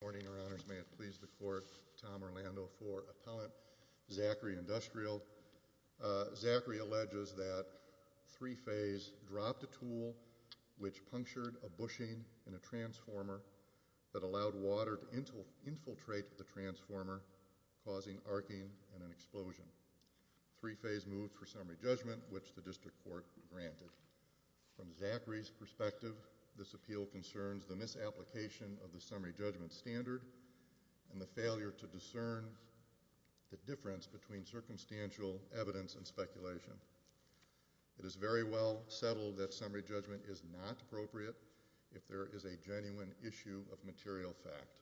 Good morning, Your Honors. May it please the Court, Tom Orlando for Appellant Zachary Industrial. Zachary alleges that Three Phase dropped a tool which punctured a bushing in a transformer that allowed water to infiltrate the transformer, causing arcing and an explosion. Three Phase moved for summary judgment, which the District Court granted. From Zachary's perspective, this appeal concerns the misapplication of the summary judgment standard and the failure to discern the difference between circumstantial evidence and speculation. It is very well settled that summary judgment is not appropriate if there is a genuine issue of material fact.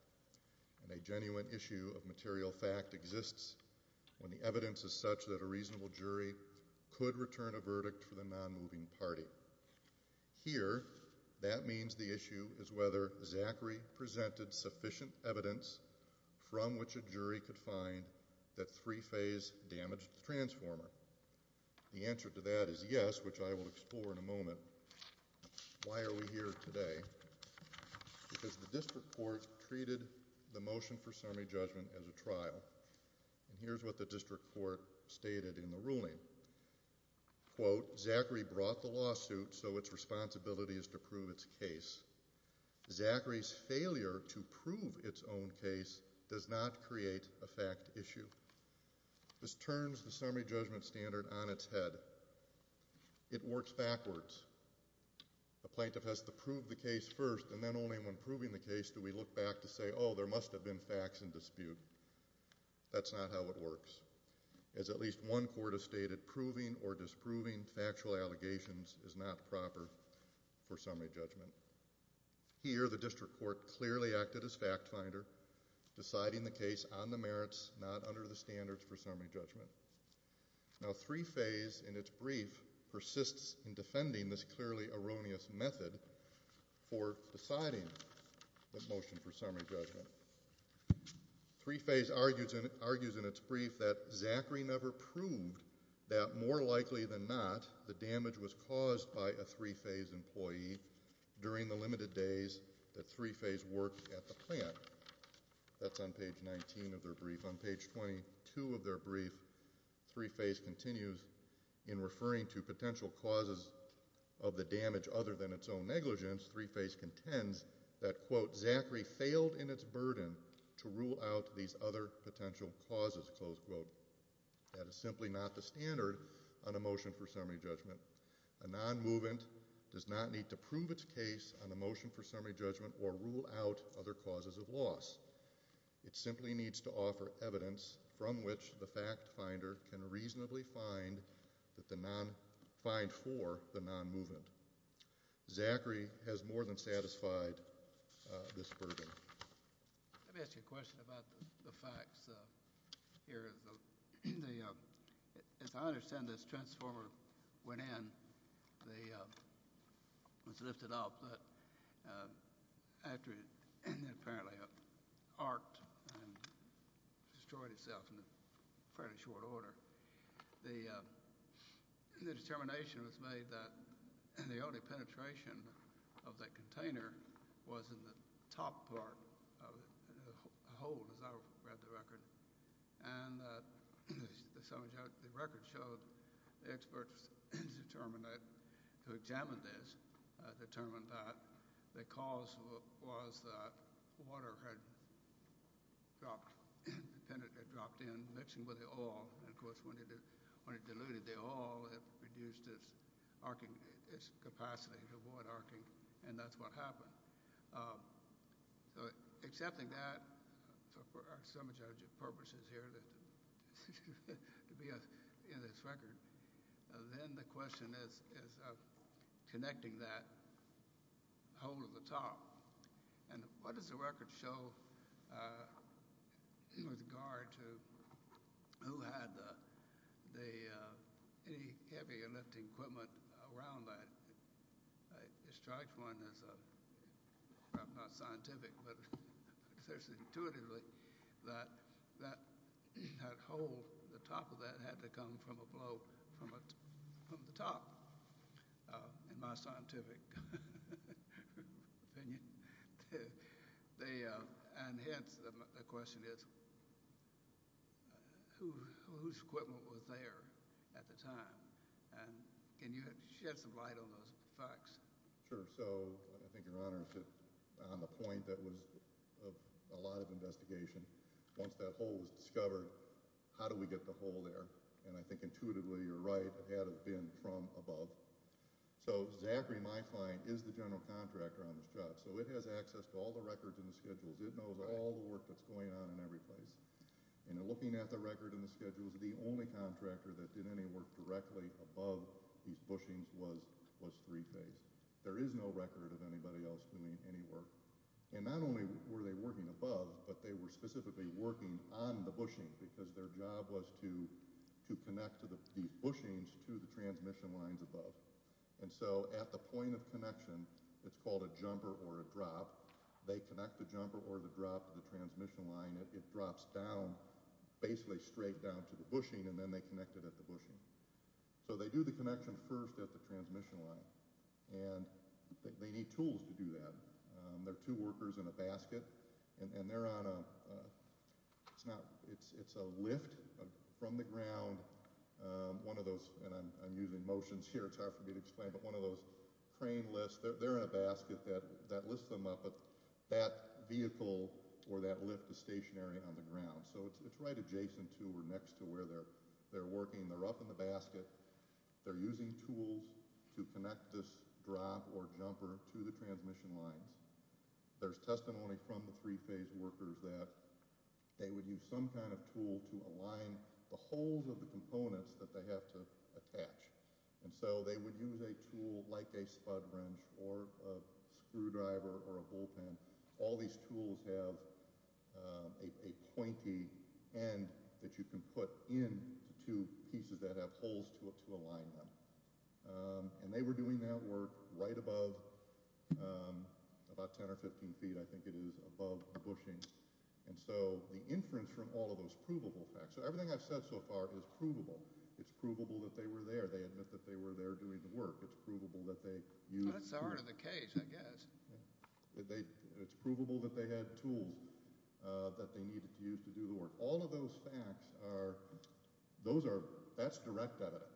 And a genuine issue of material fact exists when the evidence is such that a reasonable jury could return a verdict for the non-moving party. Here, that means the issue is whether Zachary presented sufficient evidence from which a jury could find that Three Phase damaged the transformer. The answer to that is yes, which I will explore in a moment. Why are we here today? Because the District Court treated the motion for summary judgment as a trial. And here's what the District Court stated in the ruling. Quote, Zachary brought the lawsuit so its responsibility is to prove its case. Zachary's failure to prove its own case does not create a fact issue. This turns the summary judgment standard on its head. It works backwards. The plaintiff has to prove the case first, and then only when proving the case do we look back to say, oh, there must have been facts in dispute. That's not how it works. As at least one court has stated, proving or disproving factual allegations is not proper for summary judgment. Here, the District Court clearly acted as fact finder, deciding the case on the merits, not under the standards for summary judgment. Now, Three Phase, in its brief, persists in defending this clearly erroneous method for deciding the motion for summary judgment. Three Phase argues in its brief that Zachary never proved that, more likely than not, the damage was caused by a Three Phase employee during the limited days that Three Phase worked at the plant. That's on page 19 of their brief. On page 22 of their brief, Three Phase continues in referring to potential causes of the damage other than its own negligence. Three Phase contends that, quote, Zachary failed in its burden to rule out these other potential causes, close quote. That is simply not the standard on a motion for summary judgment. A non-movement does not need to prove its case on a motion for summary judgment or rule out other causes of loss. It simply needs to offer evidence from which the fact finder can reasonably find for the non-movement. Zachary has more than satisfied this burden. Let me ask you a question about the facts here. As I understand it, this transformer went in. It was lifted up, but apparently it arced and destroyed itself in a fairly short order. The determination was made that the only penetration of that container was in the top part of the hole, as I read the record. The record showed the experts who examined this determined that the cause was that water had dropped in, mixing with the oil. Of course, when it diluted the oil, it reduced its capacity to avoid arcing, and that's what happened. Accepting that for our summary judgment purposes here to be in this record, then the question is connecting that hole at the top. What does the record show with regard to who had the heavy lifting equipment around that? It strikes one as perhaps not scientific, but there's intuitively that that hole, the top of that, had to come from a blow from the top, in my scientific opinion. Hence, the question is whose equipment was there at the time? Can you shed some light on those facts? Sure. I think your Honor is on the point that was of a lot of investigation. Once that hole was discovered, how do we get the hole there? I think intuitively you're right. It had to have been from above. Zachary, my client, is the general contractor on this job, so it has access to all the records and the schedules. It knows all the work that's going on in every place. Looking at the record and the schedules, the only contractor that did any work directly above these bushings was Three Face. There is no record of anybody else doing any work. Not only were they working above, but they were specifically working on the bushing, because their job was to connect these bushings to the transmission lines above. At the point of connection, it's called a jumper or a drop. They connect the jumper or the drop to the transmission line. It drops down, basically straight down to the bushing, and then they connect it at the bushing. They do the connection first at the transmission line. They need tools to do that. There are two workers in a basket. It's a lift from the ground. I'm using motions here. It's hard for me to explain, but one of those crane lifts, they're in a basket that lifts them up. That vehicle or that lift is stationary on the ground, so it's right adjacent to or next to where they're working. They're up in the basket. They're using tools to connect this drop or jumper to the transmission lines. There's testimony from the three-phase workers that they would use some kind of tool to align the holes of the components that they have to attach. They would use a tool like a spud wrench or a screwdriver or a bullpen. All these tools have a pointy end that you can put into two pieces that have holes to align them. They were doing that work right above, about 10 or 15 feet, I think it is, above the bushing. The inference from all of those provable facts, so everything I've said so far is provable. It's provable that they were there. They admit that they were there doing the work. It's provable that they used tools. That's part of the case, I guess. It's provable that they had tools that they needed to use to do the work. All of those facts, that's direct evidence.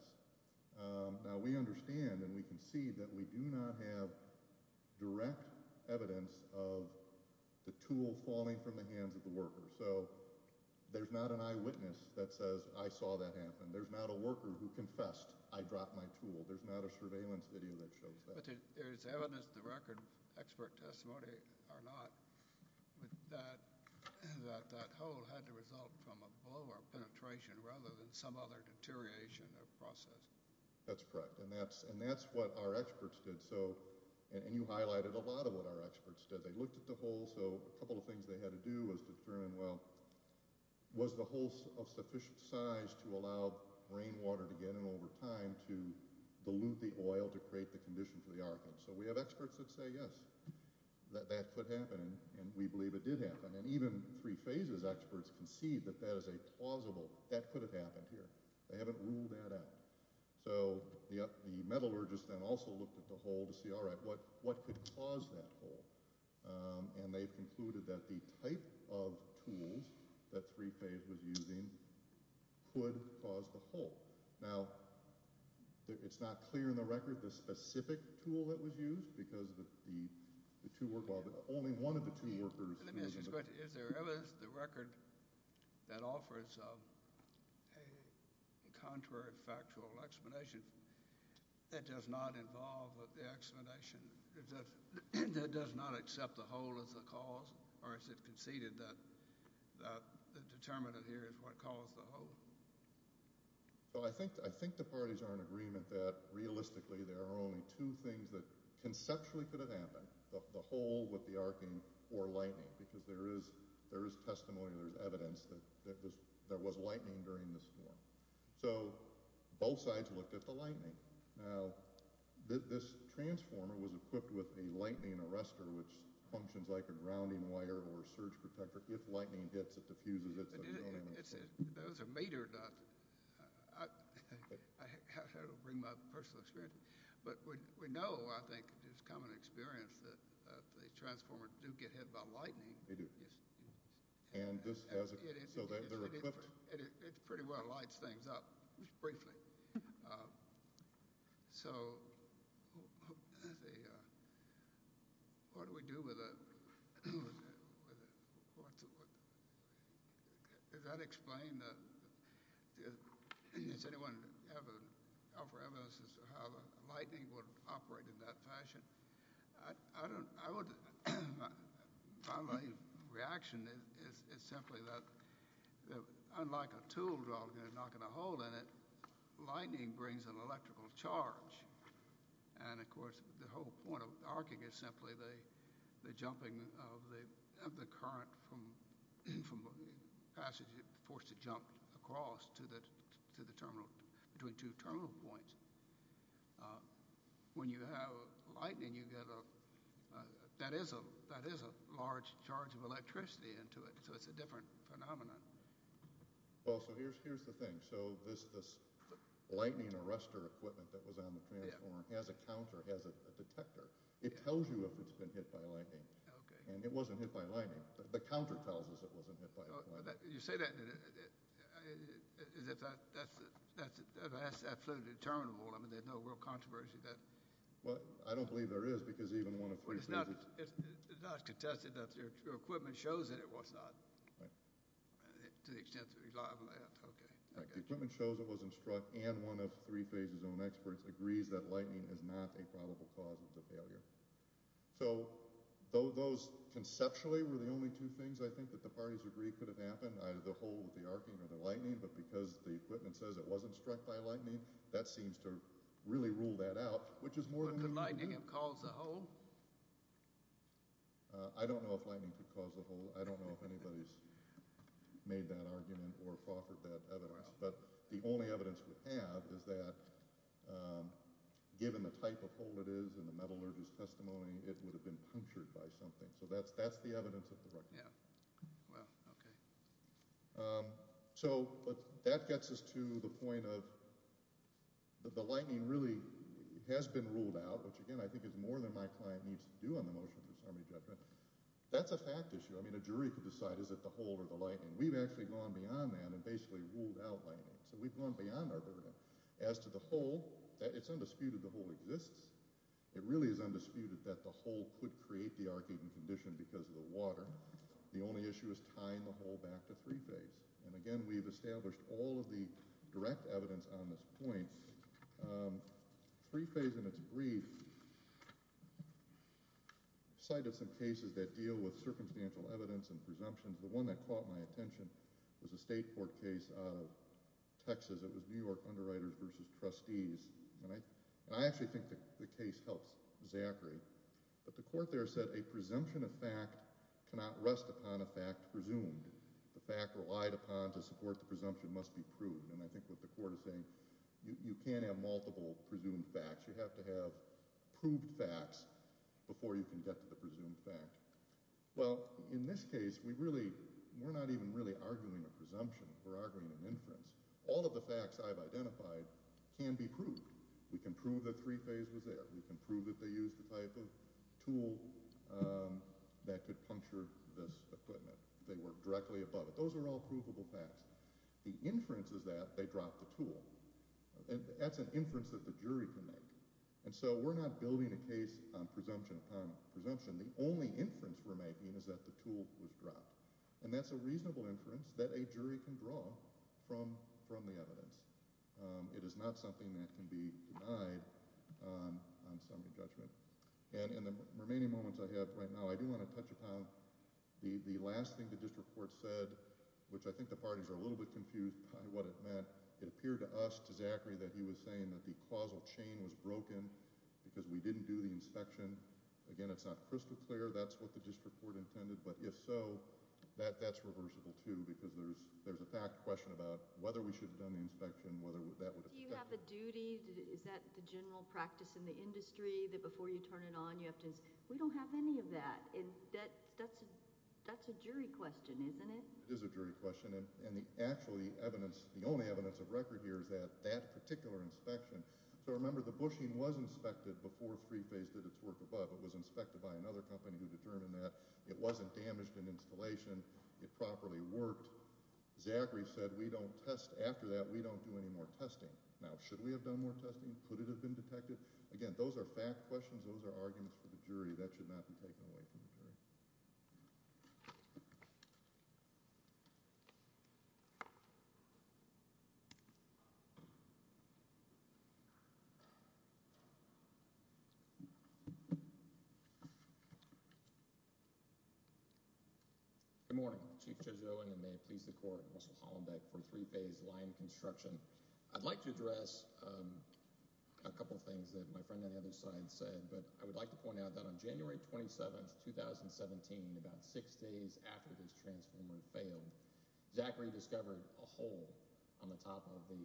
Now, we understand and we can see that we do not have direct evidence of the tool falling from the hands of the worker. So there's not an eyewitness that says, I saw that happen. There's not a worker who confessed, I dropped my tool. There's not a surveillance video that shows that. But there's evidence to the record, expert testimony or not, that that hole had the result from a blow or penetration rather than some other deterioration or process. That's correct, and that's what our experts did. And you highlighted a lot of what our experts did. They looked at the hole, so a couple of things they had to do was determine, well, was the hole of sufficient size to allow rainwater to get in over time to dilute the oil to create the condition for the arcane? So we have experts that say yes, that that could happen, and we believe it did happen. And even three phases experts concede that that is a plausible, that could have happened here. They haven't ruled that out. So the metallurgists then also looked at the hole to see, all right, what could cause that hole? And they've concluded that the type of tools that three phase was using could cause the hole. Now, it's not clear in the record the specific tool that was used because the two were – well, only one of the two workers. Let me ask you this question. Is there evidence in the record that offers a contrary factual explanation that does not involve the explanation, that does not accept the hole as the cause, or is it conceded that the determinant here is what caused the hole? Well, I think the parties are in agreement that realistically there are only two things that conceptually could have happened, the hole with the arcane or lightning, because there is testimony, there is evidence that there was lightning during this storm. So both sides looked at the lightning. Now, this transformer was equipped with a lightning arrestor, which functions like a grounding wire or surge protector. If lightning hits, it diffuses it. Those are made or not – that will bring my personal experience. But we know, I think, it's common experience that the transformers do get hit by lightning. They do. And this has a – so they're equipped. It pretty well lights things up, briefly. So what do we do with it? Does that explain – does anyone have an offer of evidence as to how lightning would operate in that fashion? I don't – I would – my reaction is simply that, unlike a tool drill knocking a hole in it, lightning brings an electrical charge. And, of course, the whole point of arcing is simply the jumping of the current from a passage forced to jump across to the terminal – between two terminal points. When you have lightning, you get a – that is a large charge of electricity into it. So it's a different phenomenon. Well, so here's the thing. So this lightning arrestor equipment that was on the transformer has a counter, has a detector. It tells you if it's been hit by lightning. Okay. And it wasn't hit by lightning. The counter tells us it wasn't hit by lightning. You say that as if that's absolutely determinable. I mean, there's no real controversy that – Well, I don't believe there is because even one of three phases – It's not contested that your equipment shows that it was not to the extent that – okay. The equipment shows it wasn't struck, and one of three phases' own experts agrees that lightning is not a probable cause of the failure. So those conceptually were the only two things I think that the parties agreed could have happened, either the hole with the arcing or the lightning. But because the equipment says it wasn't struck by lightning, that seems to really rule that out, which is more than – But could lightning have caused the hole? I don't know if lightning could cause the hole. I don't know if anybody's made that argument or offered that evidence. But the only evidence we have is that given the type of hole it is and the metallurgist's testimony, it would have been punctured by something. So that's the evidence of the record. Yeah. Well, okay. So that gets us to the point of the lightning really has been ruled out, which, again, I think is more than my client needs to do on the motion for assembly judgment. That's a fact issue. I mean, a jury could decide is it the hole or the lightning. We've actually gone beyond that and basically ruled out lightning. So we've gone beyond our burden. As to the hole, it's undisputed the hole exists. It really is undisputed that the hole could create the arcing condition because of the water. The only issue is tying the hole back to three-phase. And again, we've established all of the direct evidence on this point. Three-phase in its brief cited some cases that deal with circumstantial evidence and presumptions. The one that caught my attention was a state court case out of Texas. It was New York Underwriters v. Trustees. And I actually think the case helps Zachary. But the court there said a presumption of fact cannot rest upon a fact presumed. The fact relied upon to support the presumption must be proved. And I think what the court is saying, you can't have multiple presumed facts. You have to have proved facts before you can get to the presumed fact. Well, in this case, we're not even really arguing a presumption. We're arguing an inference. All of the facts I've identified can be proved. We can prove that three-phase was there. We can prove that they used the type of tool that could puncture this equipment. They worked directly above it. Those are all provable facts. The inference is that they dropped the tool. That's an inference that the jury can make. And so we're not building a case on presumption upon presumption. The only inference we're making is that the tool was dropped. And that's a reasonable inference that a jury can draw from the evidence. It is not something that can be denied on summary judgment. And in the remaining moments I have right now, I do want to touch upon the last thing the district court said, which I think the parties are a little bit confused by what it meant. It appeared to us, to Zachary, that he was saying that the causal chain was broken because we didn't do the inspection. Again, it's not crystal clear. That's what the district court intended. But if so, that's reversible, too, because there's a fact question about whether we should have done the inspection, whether that would have protected it. Do you have a duty? Is that the general practice in the industry, that before you turn it on you have to say, we don't have any of that? That's a jury question, isn't it? It is a jury question. And the only evidence of record here is that that particular inspection. So remember, the bushing was inspected before 3-Phase did its work above. It was inspected by another company who determined that. It wasn't damaged in installation. It properly worked. Zachary said we don't test after that. We don't do any more testing. Now, should we have done more testing? Could it have been detected? Again, those are fact questions. Those are arguments for the jury. That should not be taken away from the jury. Thank you. Good morning. Chief Judge Owen, and may it please the Court, Russell Hollenbeck for 3-Phase line construction. I'd like to address a couple of things that my friend on the other side said, but I would like to point out that on January 27, 2017, about six days after this transformer failed, Zachary discovered a hole on the top of the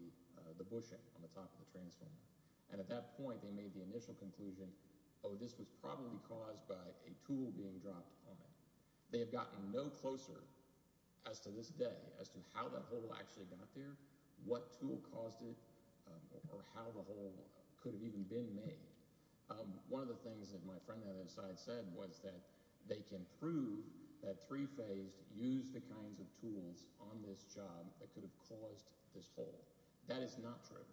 bushing, on the top of the transformer. And at that point, they made the initial conclusion, oh, this was probably caused by a tool being dropped on it. They have gotten no closer as to this day as to how that hole actually got there, what tool caused it, or how the hole could have even been made. One of the things that my friend on the other side said was that they can prove that 3-Phase used the kinds of tools on this job that could have caused this hole. That is not true.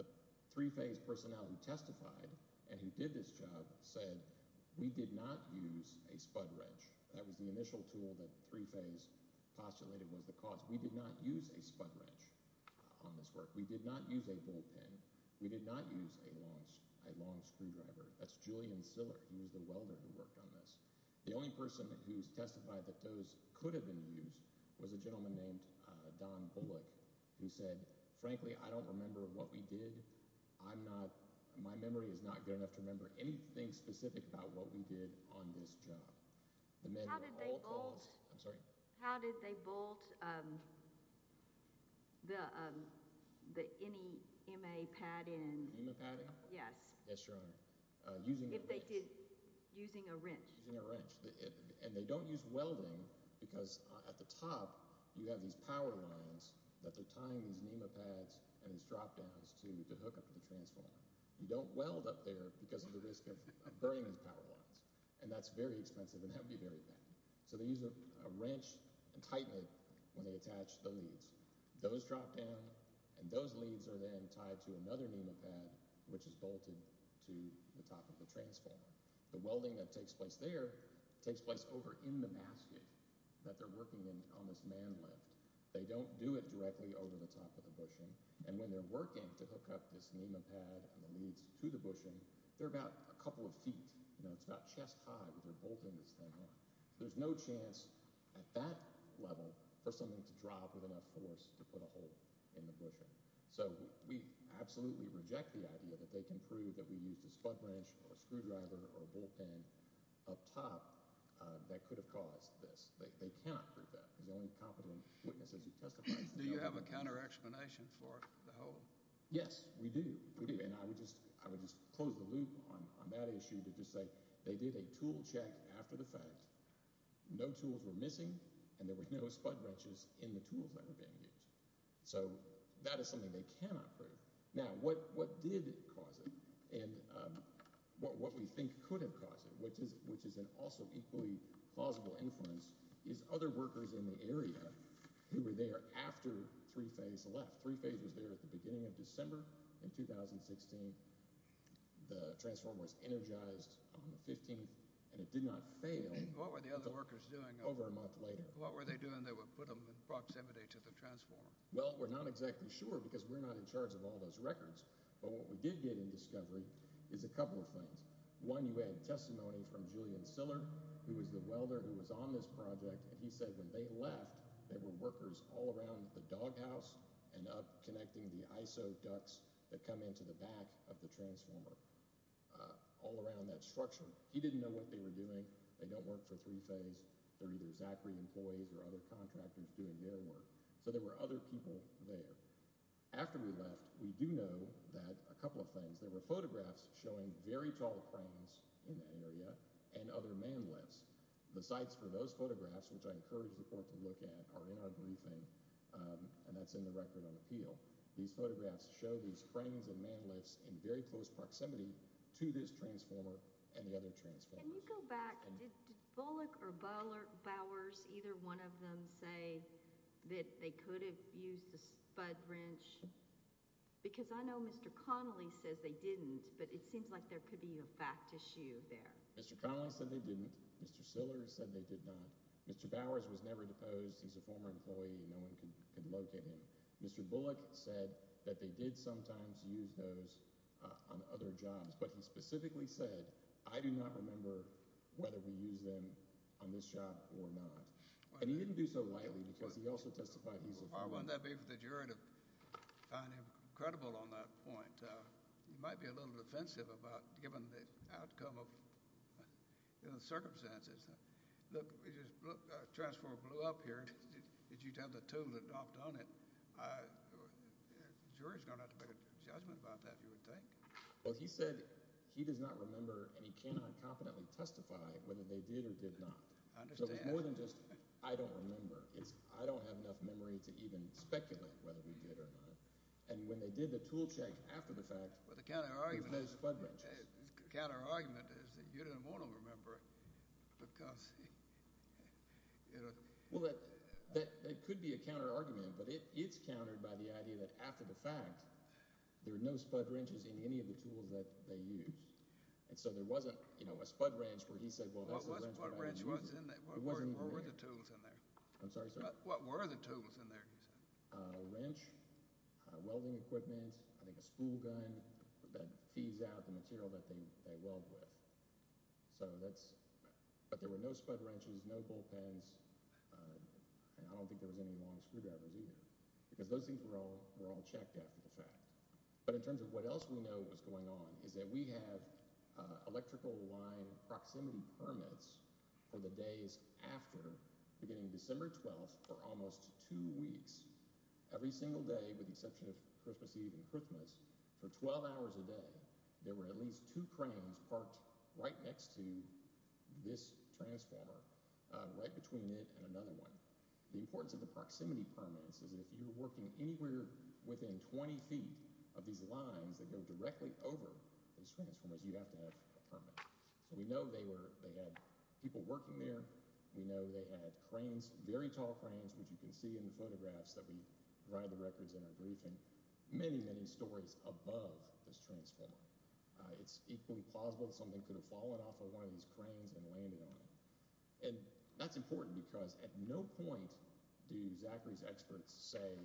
The 3-Phase personnel who testified and who did this job said we did not use a spud wrench. That was the initial tool that 3-Phase postulated was the cause. We did not use a spud wrench on this work. We did not use a bullpen. We did not use a long screwdriver. That's Julian Siller. He was the welder who worked on this. The only person who testified that those could have been used was a gentleman named Don Bullock who said, frankly, I don't remember what we did. My memory is not good enough to remember anything specific about what we did on this job. How did they bolt the NEMA pad in? NEMA padding? Yes. Yes, Your Honor. Using a wrench. Using a wrench. Using a wrench. And they don't use welding because at the top you have these power lines that they're tying these NEMA pads and these drop-downs to hook up to the transformer. You don't weld up there because of the risk of burning those power lines. And that's very expensive and that would be very bad. So they use a wrench and tighten it when they attach the leads. Those drop down and those leads are then tied to another NEMA pad, which is bolted to the top of the transformer. The welding that takes place there takes place over in the basket that they're working in on this man lift. They don't do it directly over the top of the bushing. And when they're working to hook up this NEMA pad and the leads to the bushing, they're about a couple of feet. It's about chest high when they're bolting this thing on. There's no chance at that level for something to drop with enough force to put a hole in the bushing. So we absolutely reject the idea that they can prove that we used a spud wrench or a screwdriver or a bullpen up top that could have caused this. They cannot prove that. Do you have a counter-explanation for the hole? Yes, we do. And I would just close the loop on that issue to just say they did a tool check after the fact. No tools were missing and there were no spud wrenches in the tools that were being used. So that is something they cannot prove. Now, what did cause it and what we think could have caused it, which is an also equally plausible inference, is other workers in the area who were there after 3-Phase left. 3-Phase was there at the beginning of December in 2016. The transform was energized on the 15th, and it did not fail over a month later. What were the other workers doing? What were they doing that would put them in proximity to the transform? Well, we're not exactly sure because we're not in charge of all those records. But what we did get in discovery is a couple of things. One, you had testimony from Julian Siller, who was the welder who was on this project. And he said when they left, there were workers all around the doghouse and up connecting the ISO ducts that come into the back of the transformer, all around that structure. He didn't know what they were doing. They don't work for 3-Phase. They're either Zachary employees or other contractors doing their work. So there were other people there. After we left, we do know that a couple of things. There were photographs showing very tall cranes in that area and other man lifts. The sites for those photographs, which I encourage the court to look at, are in our briefing, and that's in the record on appeal. These photographs show these cranes and man lifts in very close proximity to this transformer and the other transformers. Can you go back? Did Bullock or Bowers, either one of them, say that they could have used the spud wrench? Because I know Mr. Connolly says they didn't, but it seems like there could be a fact issue there. Mr. Connolly said they didn't. Mr. Siller said they did not. Mr. Bowers was never deposed. He's a former employee. No one could locate him. Mr. Bullock said that they did sometimes use those on other jobs. But he specifically said, I do not remember whether we used them on this job or not. And he didn't do so lightly because he also testified he's a former employee. Why wouldn't that be for the jury to find him credible on that point? He might be a little defensive about it, given the outcome of the circumstances. Look, the transformer blew up here. If you'd have the tools adopted on it, the jury's going to have to make a judgment about that, you would think. Well, he said he does not remember and he cannot competently testify whether they did or did not. So it's more than just I don't remember. It's I don't have enough memory to even speculate whether we did or not. And when they did the tool check after the fact, there were no spud wrenches. The counterargument is that you didn't want to remember it because – Well, that could be a counterargument, but it's countered by the idea that after the fact, there were no spud wrenches in any of the tools that they used. And so there wasn't a spud wrench where he said, well, that's the wrench that I used. What wrench was in there? What were the tools in there? I'm sorry, sir? What were the tools in there? A wrench, welding equipment, I think a spool gun that feeds out the material that they weld with. So that's – but there were no spud wrenches, no bullpens. I don't think there was any long screwdrivers either because those things were all checked after the fact. But in terms of what else we know was going on is that we have electrical line proximity permits for the days after, beginning December 12th, for almost two weeks. Every single day, with the exception of Christmas Eve and Christmas, for 12 hours a day, there were at least two cranes parked right next to this transformer, right between it and another one. The importance of the proximity permits is that if you're working anywhere within 20 feet of these lines that go directly over these transformers, you have to have a permit. So we know they had people working there. We know they had cranes, very tall cranes, which you can see in the photographs that we – many, many stories above this transformer. It's equally plausible that something could have fallen off of one of these cranes and landed on it. And that's important because at no point do Zachary's experts say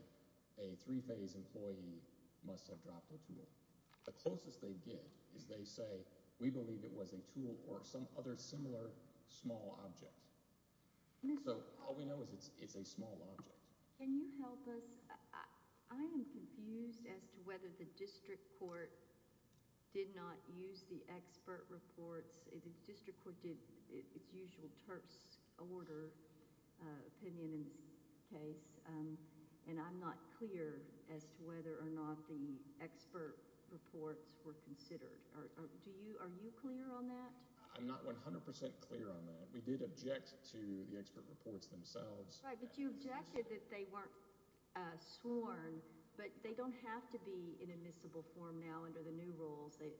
a three-phase employee must have dropped a tool. The closest they get is they say, we believe it was a tool or some other similar small object. So all we know is it's a small object. Can you help us? I am confused as to whether the district court did not use the expert reports. The district court did its usual terse order opinion in this case. And I'm not clear as to whether or not the expert reports were considered. Are you clear on that? I'm not 100 percent clear on that. We did object to the expert reports themselves. Right, but you objected that they weren't sworn. But they don't have to be in admissible form now under the new rules. It's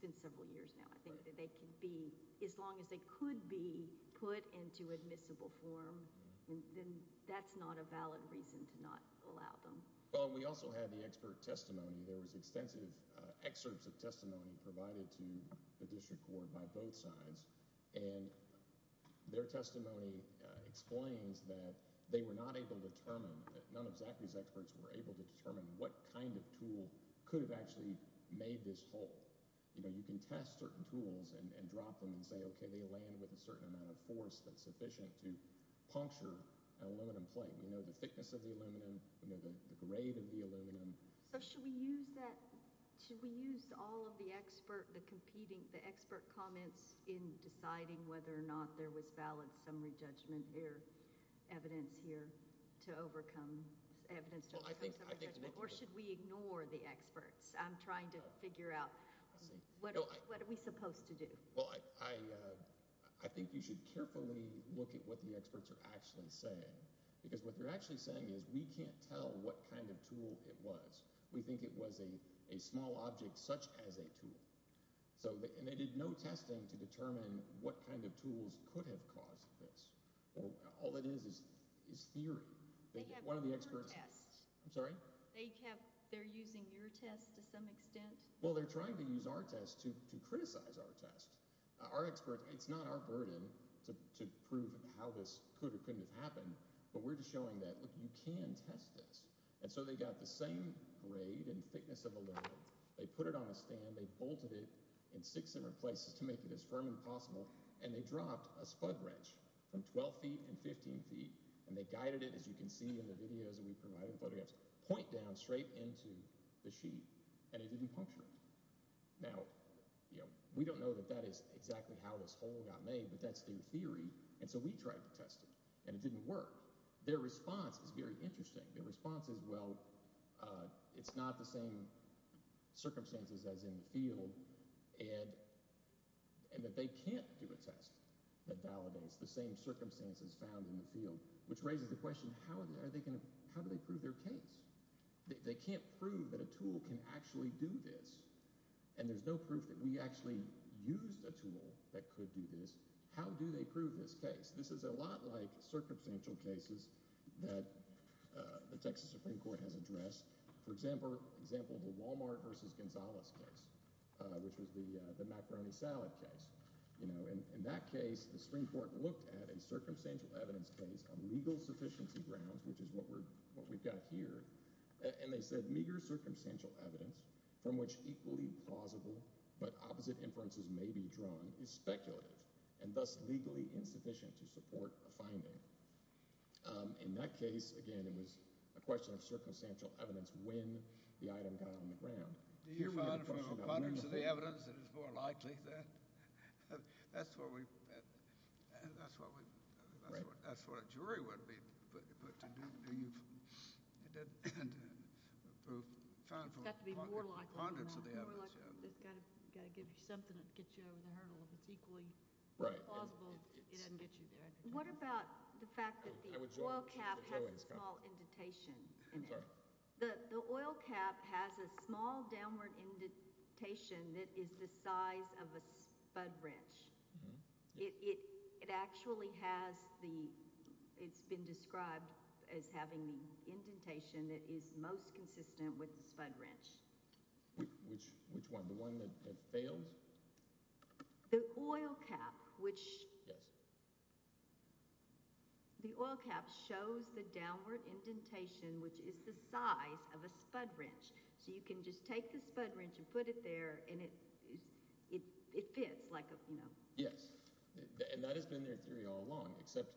been several years now, I think, that they can be – as long as they could be put into admissible form, then that's not a valid reason to not allow them. Well, we also had the expert testimony. There was extensive excerpts of testimony provided to the district court by both sides. And their testimony explains that they were not able to determine – that none of Zachary's experts were able to determine what kind of tool could have actually made this hole. You can test certain tools and drop them and say, okay, they land with a certain amount of force that's sufficient to puncture an aluminum plate. We know the thickness of the aluminum. We know the grade of the aluminum. So should we use that – should we use all of the expert – the competing – the expert comments in deciding whether or not there was valid summary judgment here, evidence here to overcome – evidence to overcome summary judgment? Or should we ignore the experts? I'm trying to figure out what are we supposed to do. Well, I think you should carefully look at what the experts are actually saying because what they're actually saying is we can't tell what kind of tool it was. We think it was a small object such as a tool. And they did no testing to determine what kind of tools could have caused this. All it is is theory. They have their test. I'm sorry? They have – they're using your test to some extent. Well, they're trying to use our test to criticize our test. Our experts – it's not our burden to prove how this could or couldn't have happened, but we're just showing that, look, you can test this. And so they got the same grade and thickness of aluminum. They put it on a stand. They bolted it in six different places to make it as firm as possible, and they dropped a spud wrench from 12 feet and 15 feet, and they guided it, as you can see in the videos that we provided, point down straight into the sheet, and it didn't puncture it. Now, we don't know that that is exactly how this hole got made, but that's their theory. And so we tried to test it, and it didn't work. Their response is very interesting. Their response is, well, it's not the same circumstances as in the field, and that they can't do a test that validates the same circumstances found in the field, which raises the question, how are they going to – how do they prove their case? They can't prove that a tool can actually do this, and there's no proof that we actually used a tool that could do this. How do they prove this case? This is a lot like circumstantial cases that the Texas Supreme Court has addressed. For example, the Walmart versus Gonzalez case, which was the macaroni salad case. In that case, the Supreme Court looked at a circumstantial evidence case on legal sufficiency grounds, which is what we've got here, and they said meager circumstantial evidence from which equally plausible but opposite inferences may be drawn is speculative and thus legally insufficient to support a finding. In that case, again, it was a question of circumstantial evidence when the item got on the ground. Do you find from the abundance of the evidence that it's more likely that – that's what we – that's what a jury would be put to do. Do you find from the abundance of the evidence? It's got to be more likely than not. It's got to give you something that gets you over the hurdle. If it's equally plausible, it doesn't get you there. What about the fact that the oil cap has a small indentation in it? It actually has the – it's been described as having the indentation that is most consistent with the spud wrench. Which one, the one that fails? The oil cap, which – Yes. The oil cap shows the downward indentation, which is the size of a spud wrench. So you can just take the spud wrench and put it there, and it fits like a – Yes, and that has been their theory all along, except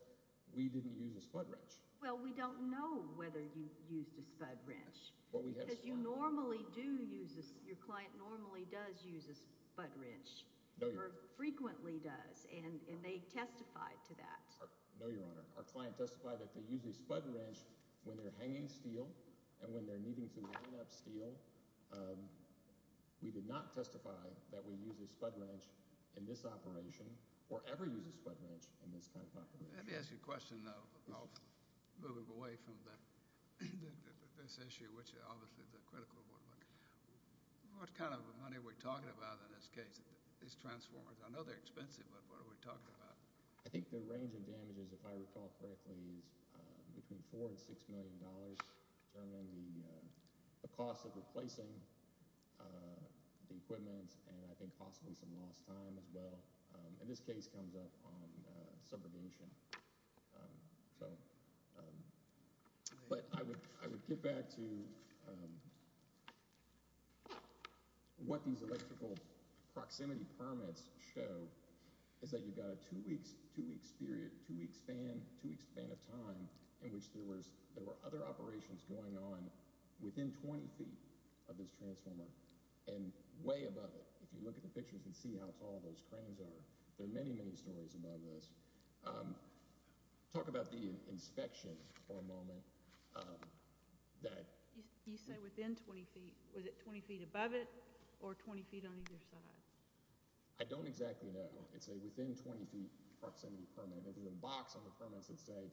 we didn't use a spud wrench. Well, we don't know whether you used a spud wrench. Because you normally do use a – your client normally does use a spud wrench or frequently does, and they testified to that. No, Your Honor. Our client testified that they use a spud wrench when they're hanging steel and when they're needing to line up steel. We did not testify that we use a spud wrench in this operation or ever use a spud wrench in this kind of operation. Let me ask you a question, though, moving away from this issue, which obviously is a critical one. What kind of money are we talking about in this case, these transformers? I know they're expensive, but what are we talking about? I think the range of damages, if I recall correctly, is between $4 million and $6 million, determining the cost of replacing the equipment and I think possibly some lost time as well. And this case comes up on subrogation. So – but I would get back to what these electrical proximity permits show is that you've got a two-week span of time in which there were other operations going on within 20 feet of this transformer and way above it. If you look at the pictures and see how tall those cranes are, there are many, many stories about this. Talk about the inspection for a moment that – You say within 20 feet. Was it 20 feet above it or 20 feet on either side? I don't exactly know. It's a within-20-feet proximity permit. There's a box on the permits that say,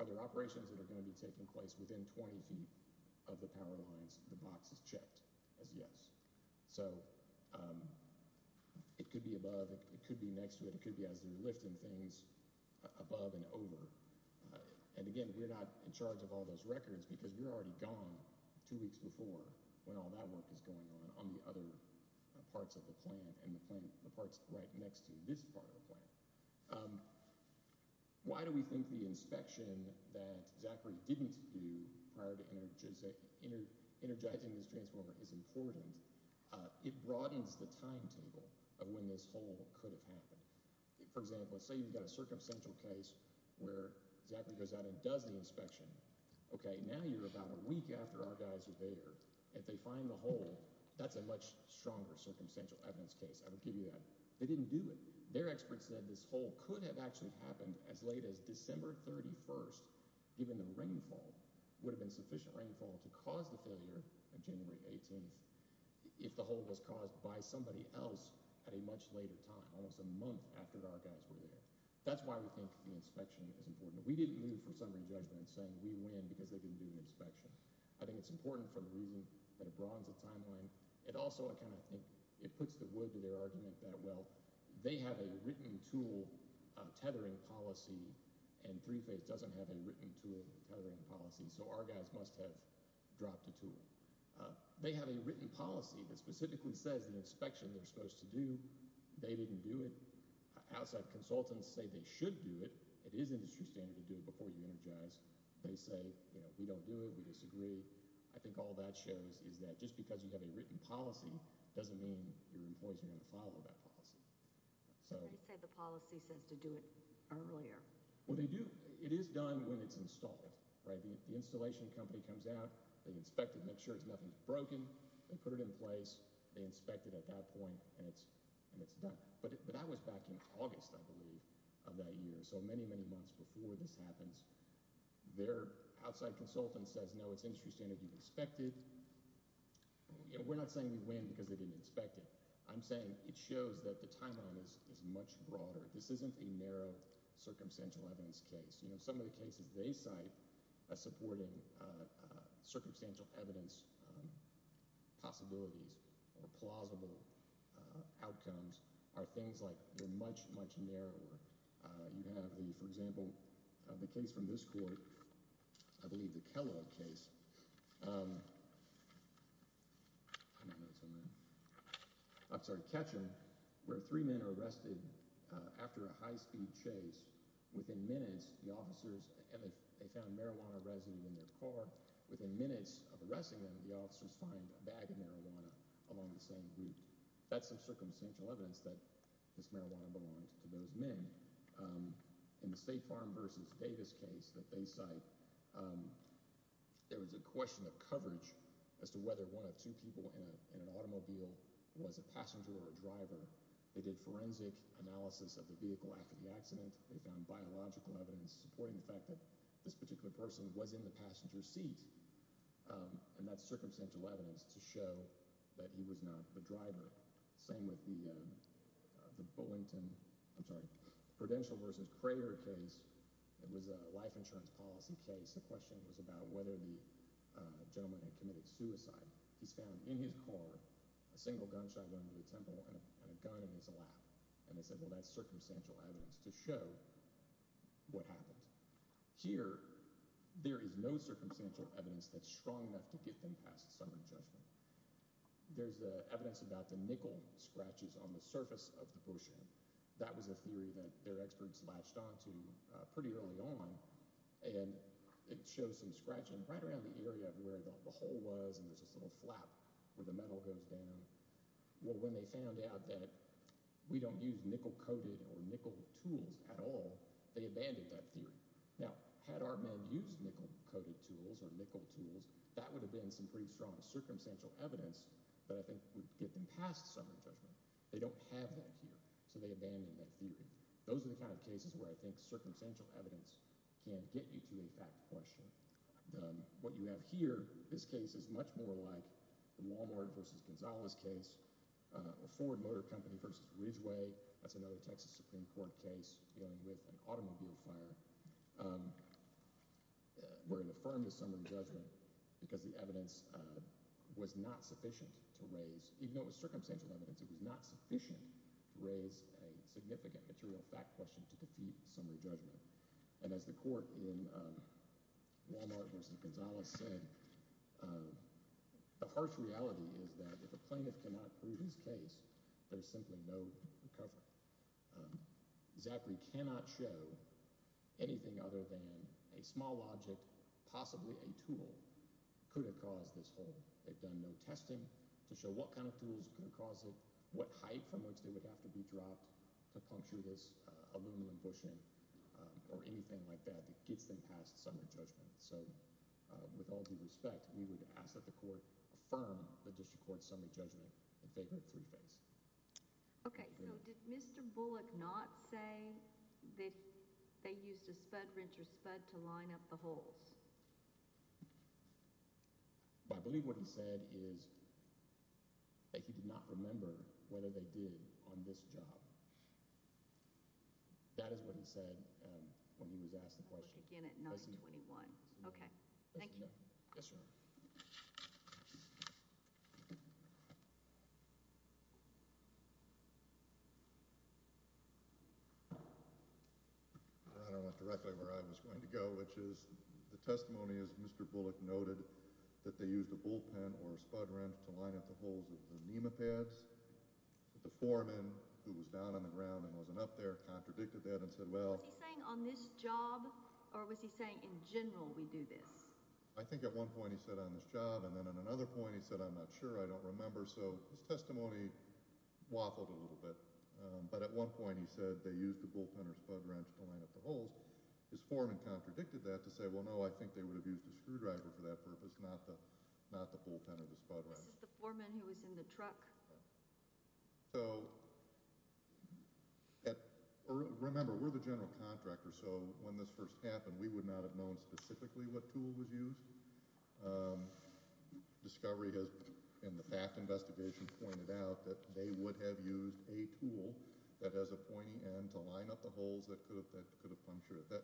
are there operations that are going to be taking place within 20 feet of the power lines? The box is checked as yes. So it could be above, it could be next to it, it could be as they're lifting things above and over. And again, we're not in charge of all those records because we're already gone two weeks before when all that work is going on on the other parts of the plant and the parts right next to this part of the plant. Why do we think the inspection that Zachary didn't do prior to energizing this transformer is important? It broadens the timetable of when this hole could have happened. For example, say you've got a circumstantial case where Zachary goes out and does the inspection. Okay, now you're about a week after our guys are there. If they find the hole, that's a much stronger circumstantial evidence case. I will give you that. They didn't do it. Their experts said this hole could have actually happened as late as December 31st, given the rainfall would have been sufficient rainfall to cause the failure of January 18th if the hole was caused by somebody else at a much later time, almost a month after our guys were there. That's why we think the inspection is important. We didn't move for summary judgment saying we win because they didn't do an inspection. I think it's important for the reason that it broadens the timeline. It also kind of puts the wood to their argument that, well, they have a written tool tethering policy, and 3-Phase doesn't have a written tool tethering policy, so our guys must have dropped a tool. They have a written policy that specifically says the inspection they're supposed to do. They didn't do it. Outside consultants say they should do it. It is industry standard to do it before you energize. They say, you know, we don't do it. We disagree. I think all that shows is that just because you have a written policy doesn't mean your employees are going to follow that policy. Somebody said the policy says to do it earlier. Well, they do. It is done when it's installed, right? The installation company comes out. They inspect it, make sure nothing's broken. They put it in place. They inspect it at that point, and it's done. But that was back in August, I believe, of that year, so many, many months before this happens. Their outside consultant says, no, it's industry standard. You inspect it. We're not saying we win because they didn't inspect it. I'm saying it shows that the timeline is much broader. This isn't a narrow circumstantial evidence case. Some of the cases they cite supporting circumstantial evidence possibilities or plausible outcomes are things like they're much, much narrower. You have, for example, the case from this court, I believe the Kellogg case. I'm sorry, Ketcham, where three men are arrested after a high-speed chase. Within minutes, the officers – and they found marijuana residue in their car. Within minutes of arresting them, the officers find a bag of marijuana along the same route. That's some circumstantial evidence that this marijuana belonged to those men. In the State Farm v. Davis case that they cite, there was a question of coverage as to whether one of two people in an automobile was a passenger or a driver. They did forensic analysis of the vehicle after the accident. They found biological evidence supporting the fact that this particular person was in the passenger seat. And that's circumstantial evidence to show that he was not the driver. Same with the Burlington – I'm sorry, Prudential v. Crater case. It was a life insurance policy case. The question was about whether the gentleman had committed suicide. He's found in his car a single gunshot wound to the temple and a gun in his lap. And they said, well, that's circumstantial evidence to show what happened. Here, there is no circumstantial evidence that's strong enough to get them past a summary judgment. There's evidence about the nickel scratches on the surface of the bushing. That was a theory that their experts latched onto pretty early on. And it shows some scratching right around the area of where the hole was, and there's this little flap where the metal goes down. Well, when they found out that we don't use nickel-coated or nickel tools at all, they abandoned that theory. Now, had our men used nickel-coated tools or nickel tools, that would have been some pretty strong circumstantial evidence that I think would get them past summary judgment. They don't have that here, so they abandoned that theory. Those are the kind of cases where I think circumstantial evidence can get you to a fact question. What you have here, this case is much more like the Walmart v. Gonzalez case, a Ford Motor Company v. Ridgway. That's another Texas Supreme Court case dealing with an automobile fire, where it affirmed a summary judgment because the evidence was not sufficient to raise. Even though it was circumstantial evidence, it was not sufficient to raise a significant material fact question to defeat summary judgment. And as the court in Walmart v. Gonzalez said, the harsh reality is that if a plaintiff cannot prove his case, there's simply no cover. Zachary cannot show anything other than a small object, possibly a tool, could have caused this hole. They've done no testing to show what kind of tools could have caused it, what height from which they would have to be dropped to puncture this aluminum bushing or anything like that that gets them past summary judgment. So, with all due respect, we would ask that the court affirm the district court's summary judgment and favor it three-phase. Okay, so did Mr. Bullock not say that they used a spud wrench or spud to line up the holes? I believe what he said is that he did not remember whether they did on this job. That is what he said when he was asked the question. I'll look again at 921. Okay. Thank you. Yes, ma'am. I don't know directly where I was going to go, which is the testimony is Mr. Bullock noted that they used a bullpen or a spud wrench to line up the holes of the NEMA pads. The foreman, who was down on the ground and wasn't up there, contradicted that and said, well— Was he saying on this job or was he saying in general we do this? I think at one point he said on this job, and then at another point he said, I'm not sure, I don't remember. So his testimony waffled a little bit, but at one point he said they used a bullpen or a spud wrench to line up the holes. His foreman contradicted that to say, well, no, I think they would have used a screwdriver for that purpose, not the bullpen or the spud wrench. Is this the foreman who was in the truck? So remember, we're the general contractor, so when this first happened, we would not have known specifically what tool was used. Discovery has, in the FACT investigation, pointed out that they would have used a tool that has a pointy end to line up the holes that could have punctured it.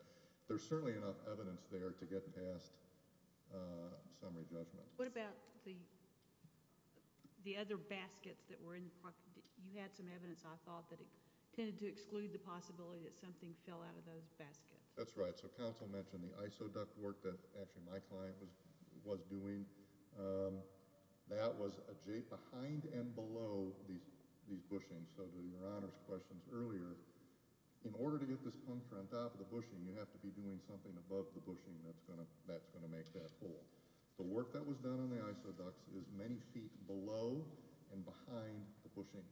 There's certainly enough evidence there to get past summary judgment. What about the other baskets that were in the truck? You had some evidence, I thought, that it tended to exclude the possibility that something fell out of those baskets. That's right. So counsel mentioned the isoduct work that actually my client was doing. That was behind and below these bushings. So to Your Honor's questions earlier, in order to get this puncture on top of the bushing, you have to be doing something above the bushing that's going to make that hole. The work that was done on the isoducts is many feet below and behind the bushing.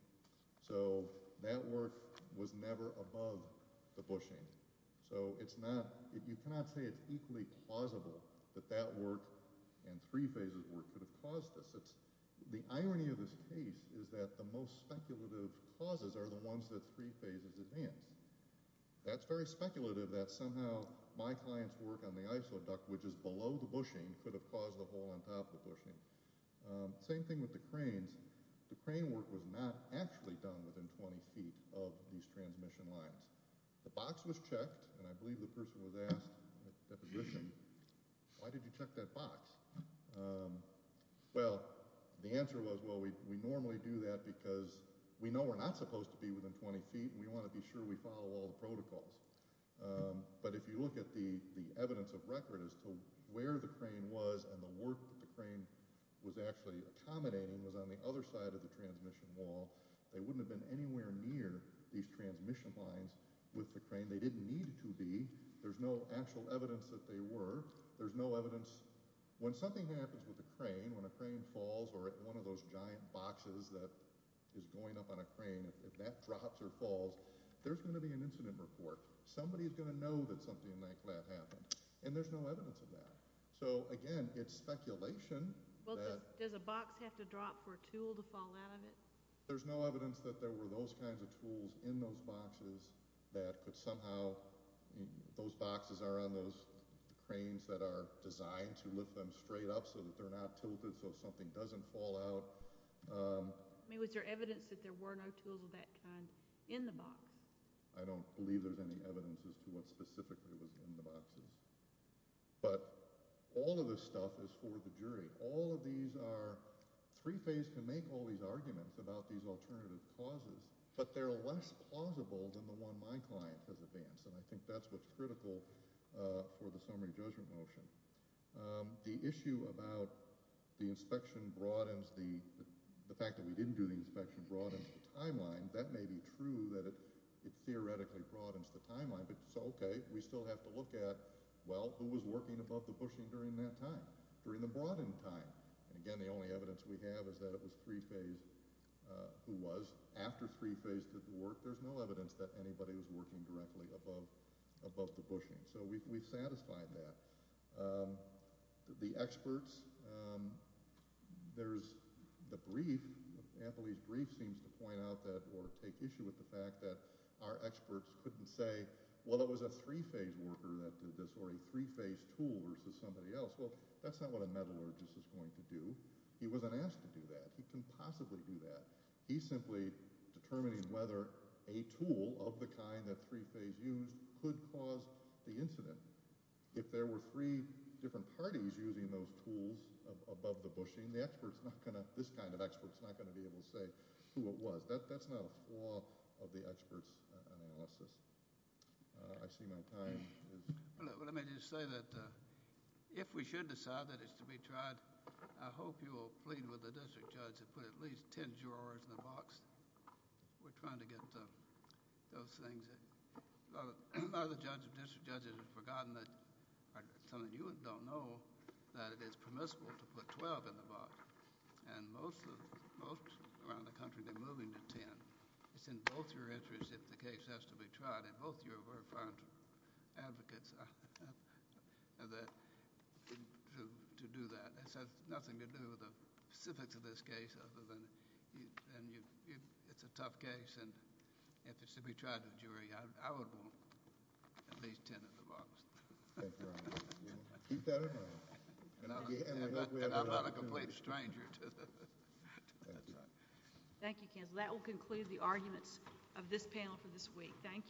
So that work was never above the bushing. So you cannot say it's equally plausible that that work and three phases work could have caused this. The irony of this case is that the most speculative causes are the ones that three phases advance. That's very speculative that somehow my client's work on the isoduct, which is below the bushing, could have caused the hole on top of the bushing. Same thing with the cranes. The crane work was not actually done within 20 feet of these transmission lines. The box was checked, and I believe the person was asked at the deposition, why did you check that box? Well, the answer was, well, we normally do that because we know we're not supposed to be within 20 feet and we want to be sure we follow all the protocols. But if you look at the evidence of record as to where the crane was and the work that the crane was actually accommodating was on the other side of the transmission wall, they wouldn't have been anywhere near these transmission lines with the crane. They didn't need to be. There's no actual evidence that they were. There's no evidence when something happens with a crane, when a crane falls or at one of those giant boxes that is going up on a crane, if that drops or falls, there's going to be an incident report. Somebody is going to know that something like that happened. And there's no evidence of that. So, again, it's speculation. Well, does a box have to drop for a tool to fall out of it? There's no evidence that there were those kinds of tools in those boxes that could somehow, those boxes are on those cranes that are designed to lift them straight up so that they're not tilted so something doesn't fall out. Was there evidence that there were no tools of that kind in the box? I don't believe there's any evidence as to what specifically was in the boxes. But all of this stuff is for the jury. All of these are three-phase to make all these arguments about these alternative causes, but they're less plausible than the one my client has advanced, and I think that's what's critical for the summary judgment motion. The issue about the inspection broadens the fact that we didn't do the inspection broadens the timeline. That may be true that it theoretically broadens the timeline, but it's okay. We still have to look at, well, who was working above the bushing during that time, during the broadened time? And, again, the only evidence we have is that it was three-phase who was. After three-phase did the work, there's no evidence that anybody was working directly above the bushing. So we've satisfied that. The experts, there's the brief. Ampley's brief seems to point out that or take issue with the fact that our experts couldn't say, well, it was a three-phase worker that did this or a three-phase tool versus somebody else. Well, that's not what a metallurgist is going to do. He wasn't asked to do that. He couldn't possibly do that. He's simply determining whether a tool of the kind that three-phase used could cause the incident. If there were three different parties using those tools above the bushing, the expert's not going to, this kind of expert's not going to be able to say who it was. That's not a flaw of the expert's analysis. I see my time is up. Well, let me just say that if we should decide that it's to be tried, I hope you will plead with the district judge to put at least 10 jurors in the box. We're trying to get those things. A lot of the district judges have forgotten that, some of you don't know that it is permissible to put 12 in the box. And most around the country, they're moving to 10. It's in both your interests if the case has to be tried, and both of you are very fine advocates to do that. It has nothing to do with the specifics of this case other than it's a tough case, and if it's to be tried in a jury, I would want at least 10 in the box. Thank you, Your Honor. Keep that in mind. And I'm not a complete stranger to that. Thank you. Thank you, counsel. That will conclude the arguments of this panel for this week. Thank you.